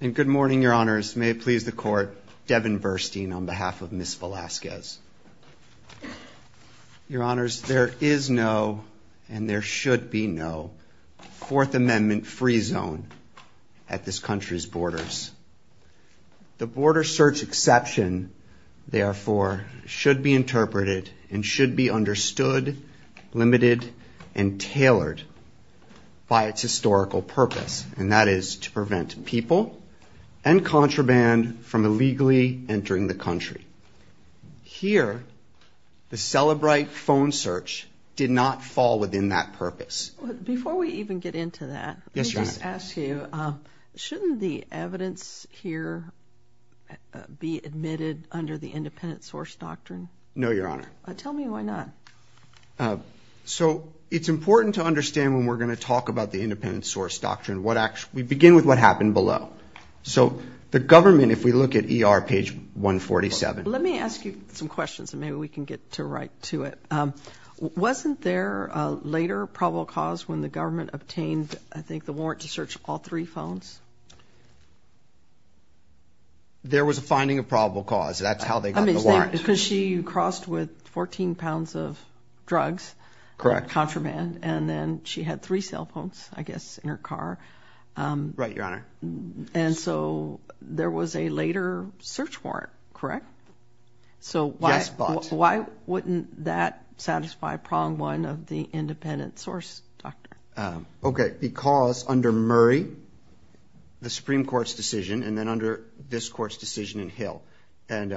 and good morning your honors may please the court Devin Burstein on behalf of miss Velazquez your honors there is no and there should be no fourth amendment free zone at this country's borders the border search exception therefore should be interpreted and should be understood limited and tailored by its historical purpose and that is to prevent people and contraband from illegally entering the country here the celebrite phone search did not fall within that purpose before we even get into that yes just ask you shouldn't the evidence here be admitted under the independent source doctrine no your honor tell me why not so it's important to understand when we're going to talk about the independent source doctrine what actually begin with what happened below so the government if we look at er page 147 let me ask you some questions and maybe we can get to right to it wasn't there later probable cause when the government obtained I think the warrant to search all three phones there was a finding of probable cause that's how they I mean because she crossed with 14 pounds of drugs correct contraband and then she had three cell phones I guess in her car right your honor and so there was a later search warrant correct so why why wouldn't that satisfy prong one of the independent source doctor okay because under Murray the Supreme Court's decision and then under this court's Hill and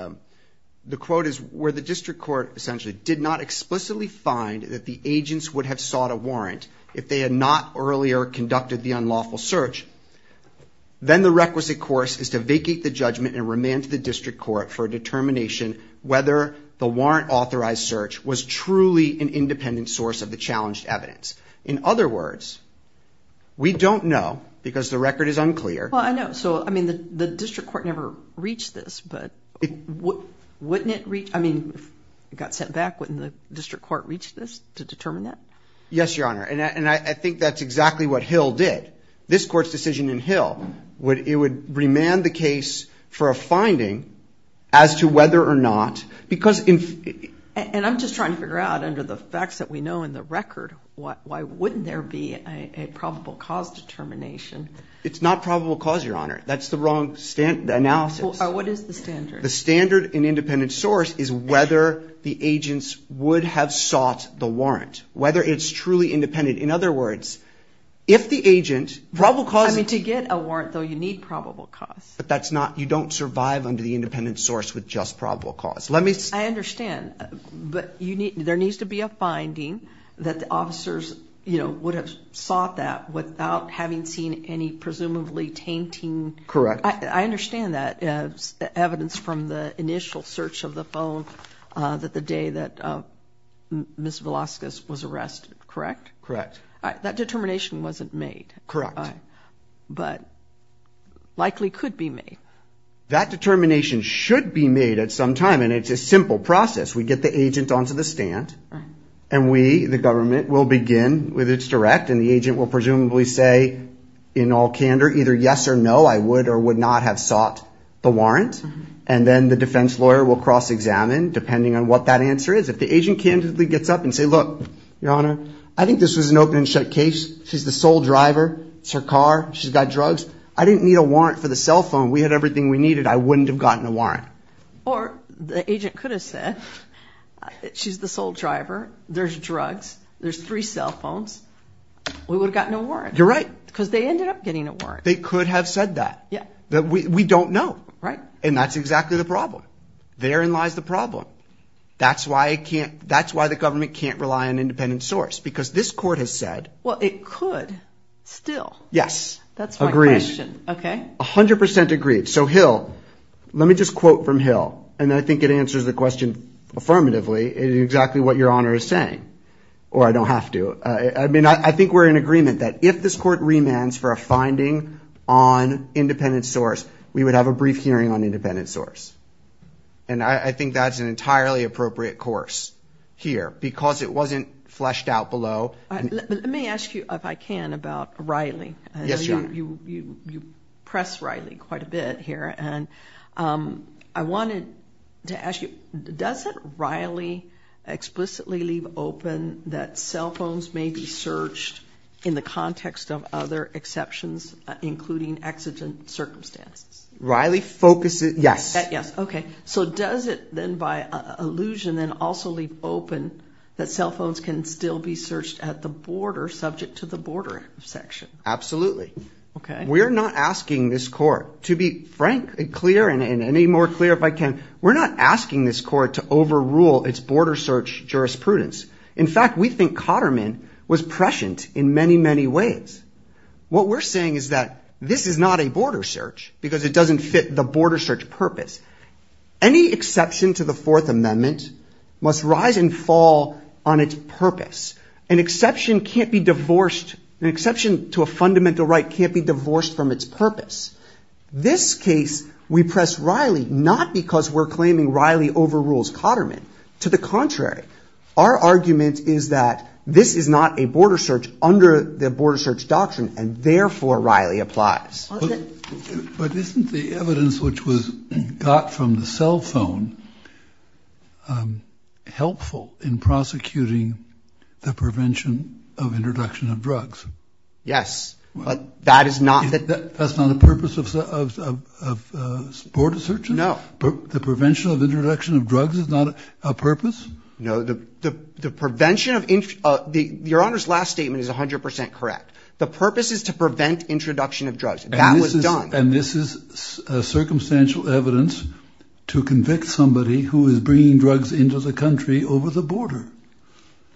the quote is where the district court essentially did not explicitly find that the agents would have sought a warrant if they had not earlier conducted the unlawful search then the requisite course is to vacate the judgment and remand to the district court for a determination whether the warrant authorized search was truly an independent source of the challenged evidence in other words we don't know because the record is unclear I know so I mean the district court never reached this but it wouldn't it reach I mean it got sent back wouldn't the district court reach this to determine that yes your honor and I think that's exactly what Hill did this court's decision in Hill would it would remand the case for a finding as to whether or not because in and I'm just trying to figure out under the facts that we know in the record what why wouldn't there be a probable cause determination it's not probable cause your honor that's the wrong stand analysis what is the standard the standard in independent source is whether the agents would have sought the warrant whether it's truly independent in other words if the agent probably causing to get a warrant though you need probable cause but that's not you don't survive under the independent source with just probable cause let me understand but you need there needs to be a finding that the officers you know sought that without having seen any presumably tainting correct I understand that evidence from the initial search of the phone that the day that miss Velasquez was arrested correct correct that determination wasn't made correct but likely could be made that determination should be made at some time and it's a simple process we get the agent onto the stand and we the with its direct and the agent will presumably say in all candor either yes or no I would or would not have sought the warrant and then the defense lawyer will cross-examine depending on what that answer is if the agent candidly gets up and say look your honor I think this was an open-and-shut case she's the sole driver it's her car she's got drugs I didn't need a warrant for the cell phone we had everything we needed I wouldn't have gotten a warrant or the agent could have said she's the sole driver there's drugs there's three cell phones we would have gotten a warrant you're right because they ended up getting a warrant they could have said that yeah that we don't know right and that's exactly the problem therein lies the problem that's why I can't that's why the government can't rely on independent source because this court has said well it could still yes that's a great okay a hundred percent agreed so Hill let me just quote from Hill and I think it answers the question affirmatively exactly what your honor is saying or I don't have to I mean I think we're in agreement that if this court remands for a finding on independent source we would have a brief hearing on independent source and I think that's an entirely appropriate course here because it wasn't fleshed out below let me ask you if I can about Riley yes you you you press Riley quite a bit here and I wanted to ask you does it Riley explicitly leave open that cell phones may be searched in the context of other exceptions including accident circumstances Riley focus it yes yes okay so does it then by illusion then also leave open that cell phones can still be searched at the border subject to the border section absolutely okay we're not asking this court to be frankly clear and any more clear if I can we're not asking this court to overrule its border search jurisprudence in fact we think Cotterman was prescient in many many ways what we're saying is that this is not a border search because it doesn't fit the border search purpose any exception to the Fourth Amendment must rise and fall on its purpose an exception can't be divorced an exception to a fundamental right can't be divorced from its purpose this case we press Riley not because we're claiming Riley overrules Cotterman to the contrary our argument is that this is not a border search under the border search doctrine and therefore Riley applies but isn't the evidence which was got from the cell phone helpful in prosecuting the prevention of border search no the prevention of introduction of drugs is not a purpose no the the prevention of the your honor's last statement is a hundred percent correct the purpose is to prevent introduction of drugs and this is a circumstantial evidence to convict somebody who is bringing drugs into the country over the border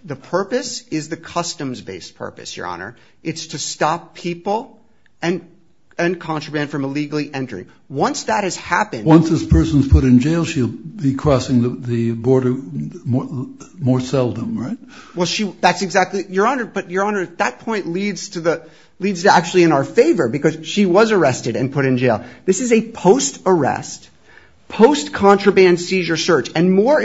the purpose is the customs-based purpose your honor it's to stop people and and contraband from illegally entering once that has happened once this person's put in jail she'll be crossing the border more seldom right well she that's exactly your honor but your honor that point leads to the leads to actually in our favor because she was arrested and put in jail this is a post arrest post contraband seizure search and more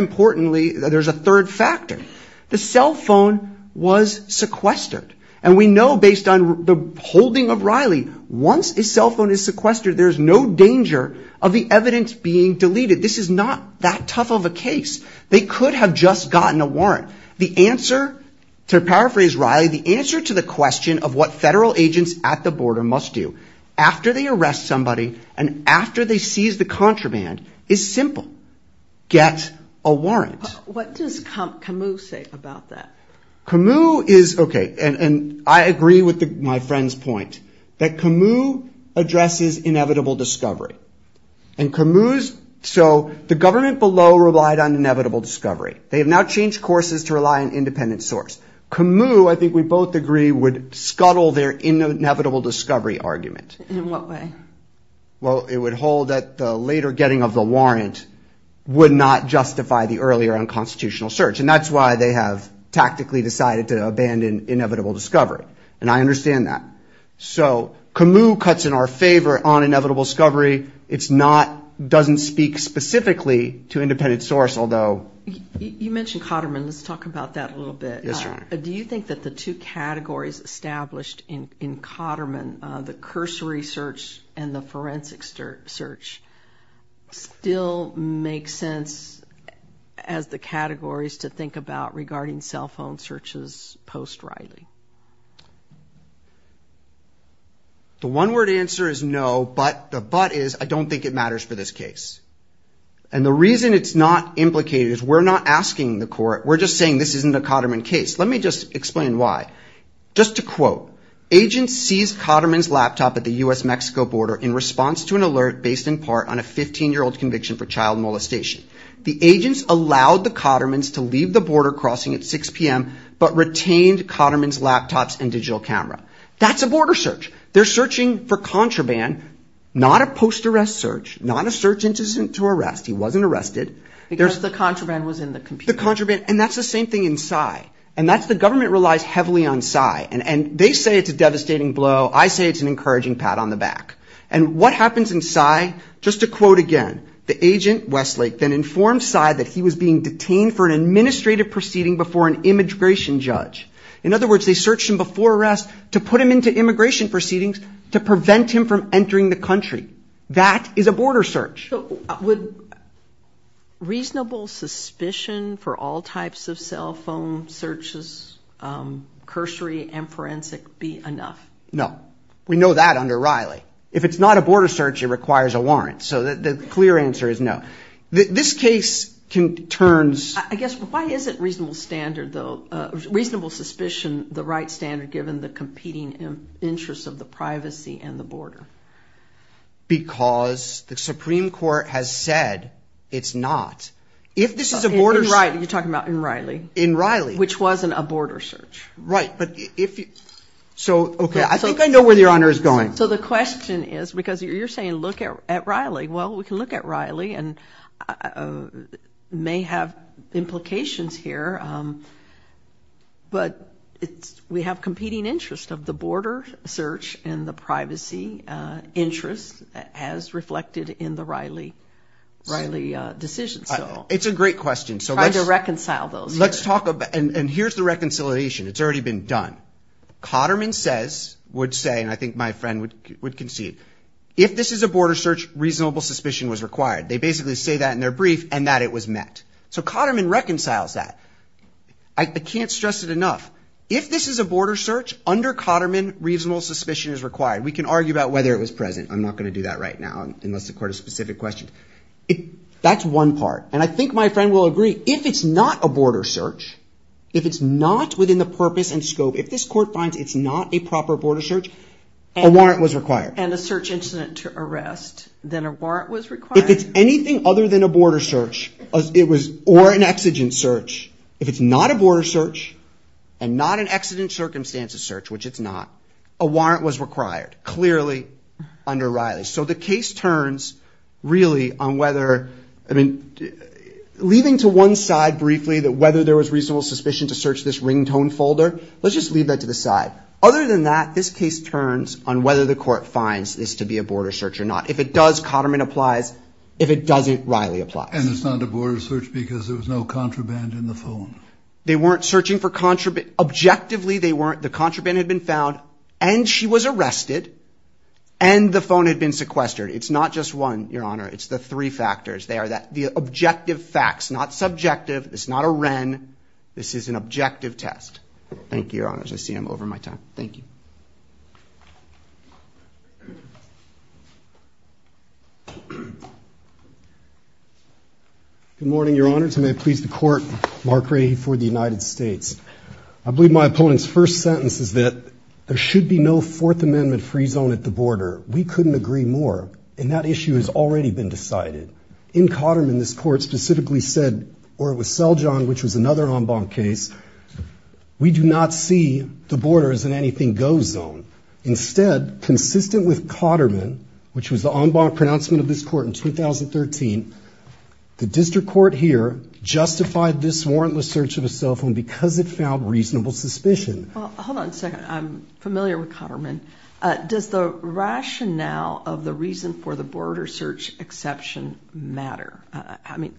based on the holding of Riley once a cell phone is sequestered there's no danger of the evidence being deleted this is not that tough of a case they could have just gotten a warrant the answer to paraphrase Riley the answer to the question of what federal agents at the border must do after they arrest somebody and after they seize the contraband is simple get a warrant what does Camus say about that Camus is okay and and I agree with the my friends point that Camus addresses inevitable discovery and Camus so the government below relied on inevitable discovery they have now changed courses to rely on independent source Camus I think we both agree would scuttle their inevitable discovery argument in what way well it would hold that the later getting of the search and that's why they have tactically decided to abandon inevitable discovery and I understand that so Camus cuts in our favor on inevitable discovery it's not doesn't speak specifically to independent source although you mentioned Cotterman let's talk about that a little bit yes sir do you think that the two categories established in in Cotterman the cursory search and the forensic search still make sense as the categories to think about regarding cell phone searches post Riley the one word answer is no but the but is I don't think it matters for this case and the reason it's not implicated is we're not asking the court we're just saying this isn't a Cotterman case let me just explain why just to quote agents sees Cotterman's laptop at the US-Mexico border in response to an alert based in part on a 15 year old conviction for child molestation the agents allowed the Cotterman's to leave the border crossing at 6 p.m. but retained Cotterman's laptops and digital camera that's a border search they're searching for contraband not a post arrest search not a search incident to arrest he wasn't arrested there's the contraband was in the computer contraband and that's the same thing inside and that's the government relies heavily on sigh and and they say it's a devastating blow I say it's an encouraging pat on the back and what happens inside just to quote again the agent Westlake then informed side that he was being detained for an administrative proceeding before an immigration judge in other words they searched him before arrest to put him into immigration proceedings to prevent him from entering the country that is a phone searches cursory and forensic be enough no we know that under Riley if it's not a border search it requires a warrant so that the clear answer is no this case can turns I guess why is it reasonable standard though reasonable suspicion the right standard given the competing interests of the privacy and the border because the Supreme Court has said it's not if this is a border right you're talking about in Riley in Riley which wasn't a border search right but if you so okay I think I know where the honor is going so the question is because you're saying look at Riley well we can look at Riley and may have implications here but it's we have competing interest of the border search and the privacy interest has reflected in the Riley Riley decision so it's a great question so let's reconcile those let's talk about and here's the reconciliation it's already been done Cotterman says would say and I think my friend would would concede if this is a border search reasonable suspicion was required they basically say that in their brief and that it was met so Cotterman reconciles that I can't stress it enough if this is a border search under Cotterman reasonable suspicion is required we can argue about whether it was present I'm not going to do that right now unless the court of specific questions if that's one part and I think my friend will agree if it's not a border search if it's not within the purpose and scope if this court finds it's not a proper border search a warrant was required and a search incident to arrest then a warrant was required if it's anything other than a border search it was or an exigent search if it's not a border search and not an accident circumstances search which it's not a warrant was required clearly under Riley so the case turns really on whether I mean leaving to one side briefly that whether there was reasonable suspicion to search this ring tone folder let's just leave that to the side other than that this case turns on whether the court finds this to be a border search or not if it does Cotterman applies if it doesn't Riley apply and it's not a border search because there was no contraband in the phone they weren't searching for contraband objectively they weren't the contraband had been found and she was arrested and the phone had been sequestered it's not just one your honor it's the three factors they are that the objective facts not subjective it's not a Wren this is an objective test thank you your honors I see I'm over my time thank you good morning your honor to may please the court mark ready for the United States I believe my opponent's first sentence is there should be no Fourth Amendment free zone at the border we couldn't agree more and that issue has already been decided in Cotterman this court specifically said or it was sell John which was another en banc case we do not see the borders and anything goes zone instead consistent with Cotterman which was the en banc pronouncement of this court in 2013 the district court here justified this warrantless search of a cell phone because it found reasonable suspicion hold on a second I'm familiar with Cotterman does the rationale of the reason for the border search exception matter I mean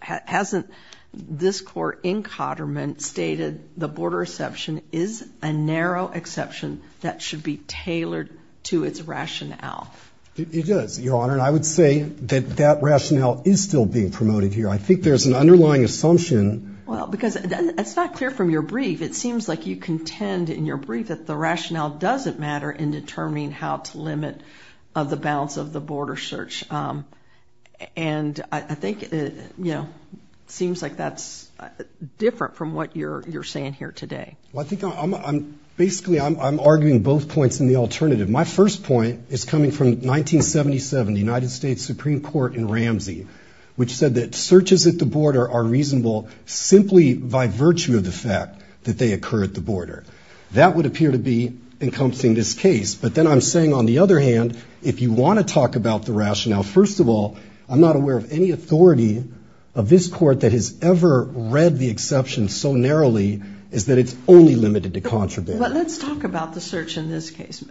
hasn't this court in Cotterman stated the border exception is a narrow exception that should be tailored to its rationale it does your honor and I would say that that rationale is still being promoted here I think there's an underlying assumption well because it's not clear from your brief it seems like you contend in your brief that the rationale doesn't matter in determining how to limit of the balance of the border search and I think you know seems like that's different from what you're you're saying here today I think I'm basically I'm arguing both points in the alternative my first point is coming from 1977 the United States Supreme Court in Ramsey which said that searches at the border are simply by virtue of the fact that they occur at the border that would appear to be encompassing this case but then I'm saying on the other hand if you want to talk about the rationale first of all I'm not aware of any authority of this court that has ever read the exception so narrowly is that it's only limited to contraband let's talk about the search in this case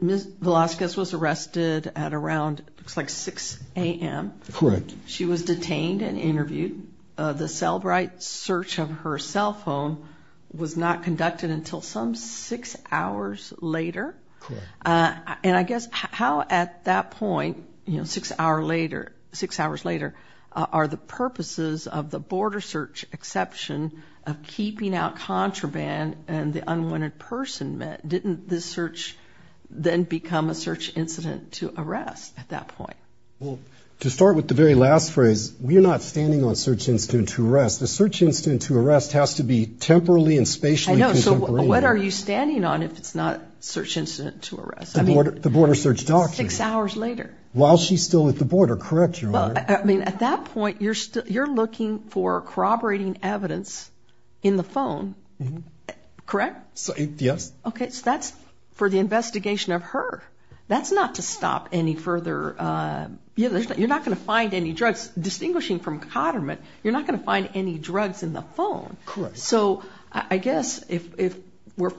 miss Velasquez was arrested at around 6 a.m. she was detained and search of her cell phone was not conducted until some six hours later and I guess how at that point you know six hour later six hours later are the purposes of the border search exception of keeping out contraband and the unwanted person meant didn't this search then become a search incident to arrest at that point well to start with the very last phrase we are not standing on search incident to arrest the search incident to arrest has to be temporally and spatially what are you standing on if it's not search incident to arrest I mean what the border search doctor six hours later while she's still at the border correct your well I mean at that point you're still you're looking for corroborating evidence in the phone correct so yes okay so that's for the investigation of her that's not to stop any further you know you're not going to find any drugs in the phone so I guess if we're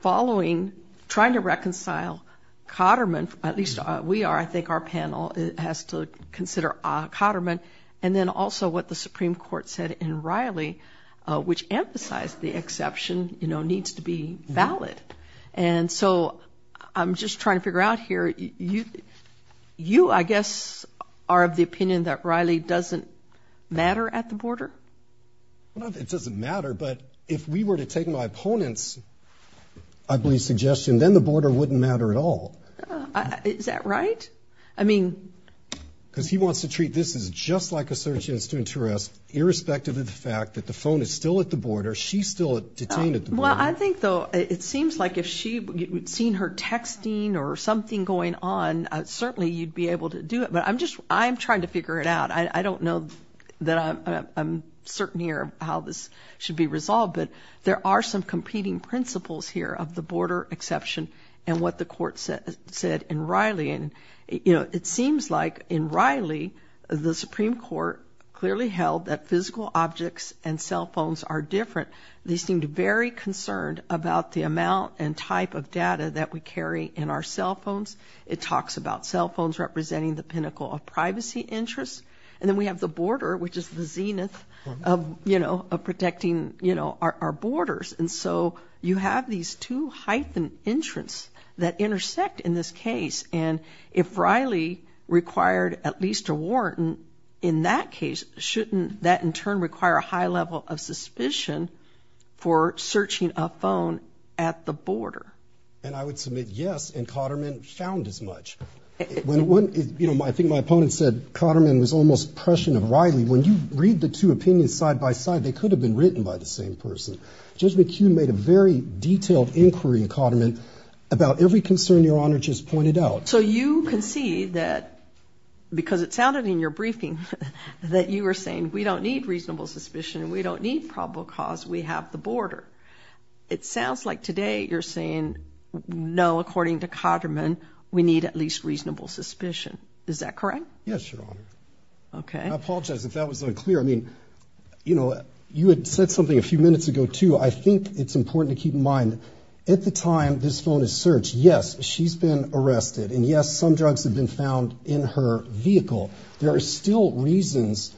following trying to reconcile Cotterman at least we are I think our panel it has to consider a Cotterman and then also what the Supreme Court said in Riley which emphasized the exception you know needs to be valid and so I'm just trying to figure out here you you I guess are of the opinion that Riley doesn't matter at the border it doesn't matter but if we were to take my opponents I believe suggestion then the border wouldn't matter at all is that right I mean because he wants to treat this is just like a search incident to arrest irrespective of the fact that the phone is still at the border she's still detained at the well I think though it seems like if she would seen her texting or something going on certainly you'd be able to do it but I'm just I'm trying to figure it out I don't know that I'm certain here how this should be resolved but there are some competing principles here of the border exception and what the court said said in Riley and you know it seems like in Riley the Supreme Court clearly held that physical objects and cell phones are different they seemed very concerned about the amount and type of data that we carry in our cell phones it talks about cell phones representing the pinnacle of privacy interests and then we have the border which is the zenith of you know of protecting you know our borders and so you have these two hyphen entrance that intersect in this case and if Riley required at least a warrant in that case shouldn't that in turn require a high level of suspicion for searching a phone at the border and I would submit yes and I think my opponent said Cotterman was almost prescient of Riley when you read the two opinions side by side they could have been written by the same person Judge McHugh made a very detailed inquiry in Cotterman about every concern your honor just pointed out so you can see that because it sounded in your briefing that you were saying we don't need reasonable suspicion we don't need probable cause we have the border it sounds like today you're saying no according to Cotterman we need at least reasonable suspicion is that correct yes your honor okay I apologize if that was unclear I mean you know you had said something a few minutes ago too I think it's important to keep in mind at the time this phone is searched yes she's been arrested and yes some drugs have been found in her vehicle there are still reasons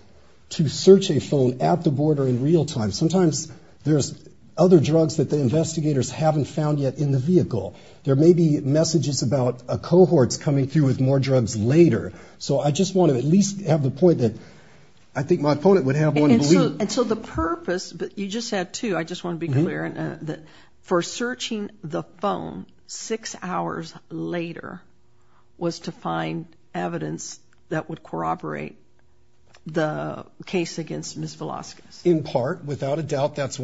to search a phone at the border in real time sometimes there's other drugs that the investigators haven't found yet in the vehicle there may be messages about a cohorts coming through with more drugs later so I just want to at least have the point that I think my opponent would have until the purpose but you just had to I just want to be clear and that for searching the phone six hours later was to find evidence that would corroborate the case against miss Velasquez in part without a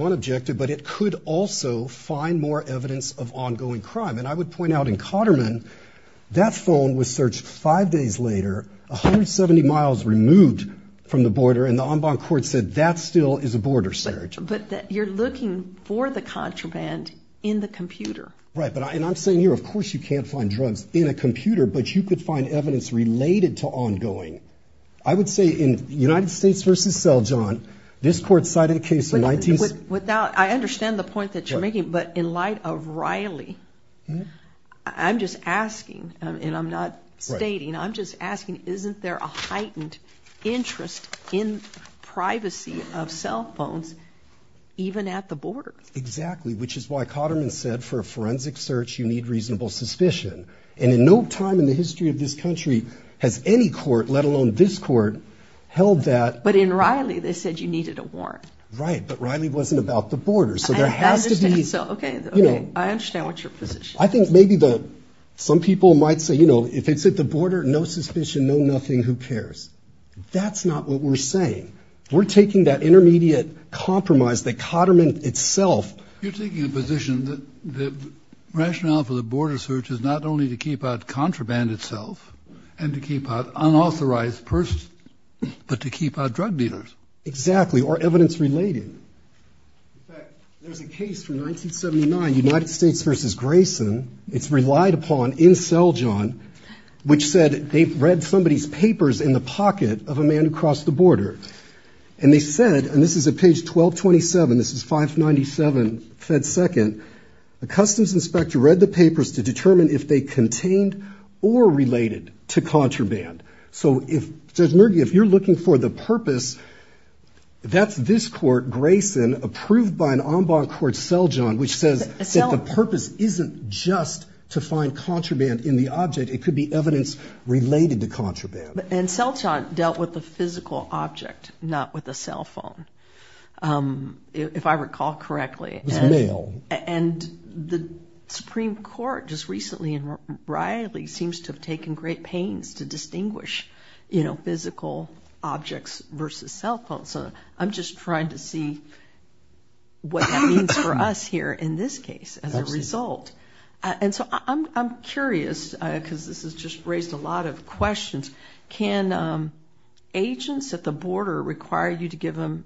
more evidence of ongoing crime and I would point out in Cotterman that phone was searched five days later a hundred seventy miles removed from the border and the ombud court said that still is a border search but you're looking for the contraband in the computer right but I and I'm saying here of course you can't find drugs in a computer but you could find evidence related to ongoing I would say in the United States versus cell John this court cited a case in 19 with I understand the point that you're making but in light of Riley I'm just asking and I'm not stating I'm just asking isn't there a heightened interest in privacy of cell phones even at the border exactly which is why Cotterman said for a forensic search you need reasonable suspicion and in no time in the history of this country has any court let alone this court held that but in Riley they said you needed a warrant right but Riley wasn't about the border so there has to be so okay you know I understand what your position I think maybe though some people might say you know if it's at the border no suspicion no nothing who cares that's not what we're saying we're taking that intermediate compromise that Cotterman itself you're taking a position that the rationale for the border search is not only to keep out contraband itself and keep out unauthorized person but to keep out drug dealers exactly or evidence related there's a case from 1979 United States versus Grayson it's relied upon in cell John which said they've read somebody's papers in the pocket of a man across the border and they said and this is a page 1227 this is 597 Fed second the customs inspector read the papers to determine if they contraband so if there's murky if you're looking for the purpose that's this court Grayson approved by an ombud court cell John which says it's not the purpose isn't just to find contraband in the object it could be evidence related to contraband and cell John dealt with the physical object not with a cell phone if I recall correctly and the Supreme Court just recently in Riley seems to have taken great pains to distinguish you know physical objects versus cell phones so I'm just trying to see what that means for us here in this case as a result and so I'm curious because this has just raised a lot of questions can agents at the border require you to give them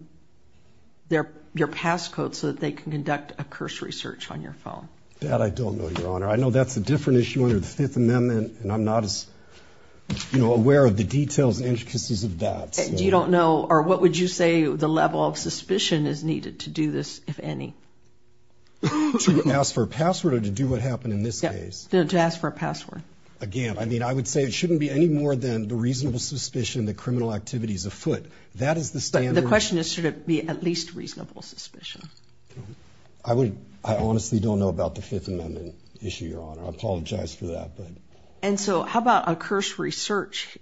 their your passcode so that they can conduct a cursory search on your phone dad I don't know your honor I know that's a different issue under the Fifth Amendment and I'm not as you know aware of the details intricacies of that you don't know or what would you say the level of suspicion is needed to do this if any ask for a password or to do what happened in this case don't ask for a password again I mean I would say it shouldn't be any more than the reasonable suspicion that criminal activities afoot that is the stand the don't know about the Fifth Amendment issue your honor I apologize for that but and so how about a cursory search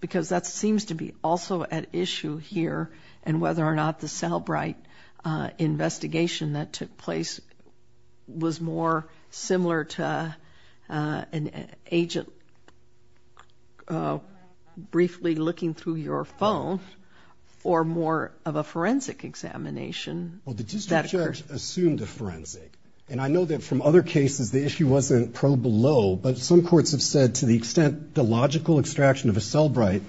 because that seems to be also at issue here and whether or not the cell bright investigation that took place was more similar to an agent briefly looking through your phone or more of a forensic examination well the district judge assumed the forensic and I know that from other cases the issue wasn't pro below but some courts have said to the extent the logical extraction of a cell bright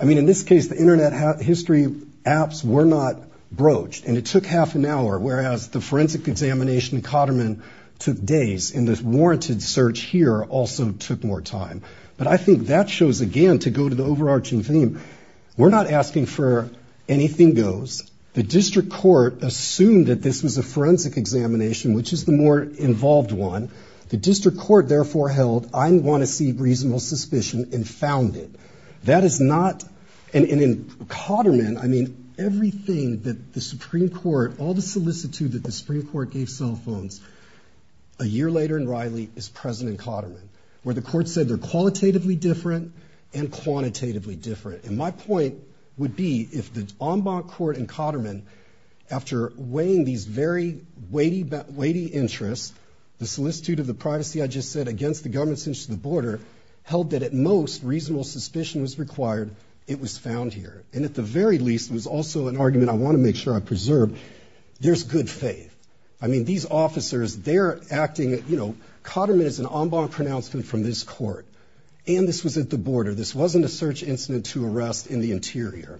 I mean in this case the internet history apps were not broached and it took half an hour whereas the forensic examination Cotterman took days in this warranted search here also took more time but I think that shows again to go to the overarching theme we're not asking for anything goes the district court assumed that this was a forensic examination which is the more involved one the district court therefore held I want to see reasonable suspicion and found it that is not and in Cotterman I mean everything that the Supreme Court all the solicitude that the Supreme Court gave cell phones a year later in Riley is president Cotterman where the court said they're qualitatively different and quantitatively different and my point would be if the ombud court in Cotterman after weighing these very weighty but weighty interests the solicitude of the privacy I just said against the government since the border held that at most reasonable suspicion was required it was found here and at the very least was also an argument I want to make sure I preserve there's good faith I mean these officers they're acting it you know Cotterman is an ombud pronouncement from this court and this was at the border this wasn't a search incident to arrest in the interior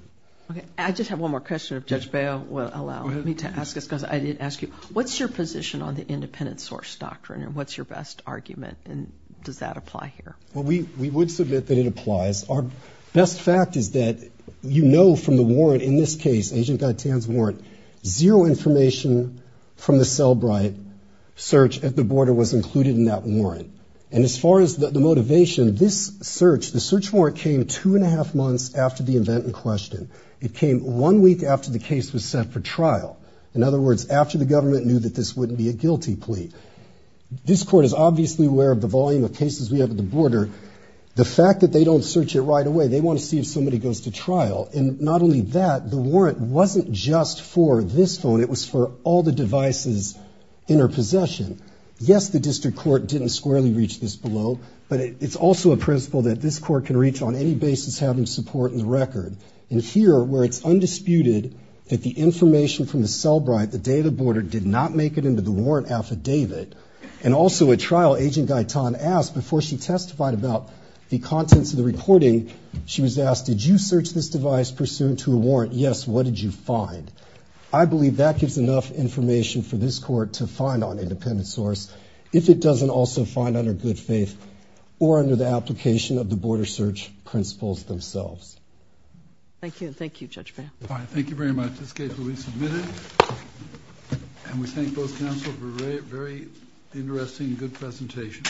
I just have one more question of judge bail will allow me to ask us because I did ask you what's your position on the independent source doctrine and what's your best argument and does that apply here well we we would submit that it applies our best fact is that you know from the warrant in this case agent got tans warrant zero information from the cell bright search at the border was the search warrant came two and a half months after the event in question it came one week after the case was set for trial in other words after the government knew that this wouldn't be a guilty plea this court is obviously aware of the volume of cases we have at the border the fact that they don't search it right away they want to see if somebody goes to trial and not only that the warrant wasn't just for this phone it was for all the devices in her possession yes the district court didn't squarely reach this below but it's also a principle that this court can reach on any basis having support in the record and here where it's undisputed that the information from the cell bright the day of the border did not make it into the warrant affidavit and also a trial agent guy Tom asked before she testified about the contents of the recording she was asked did you search this device pursuant to a warrant yes what did you find I believe that gives enough information for this court to find on independent source if it doesn't also find under good faith or under the application of the border search principles themselves thank you thank you judge thank you very much this case will be submitted and we thank both counsel for a very interesting good presentation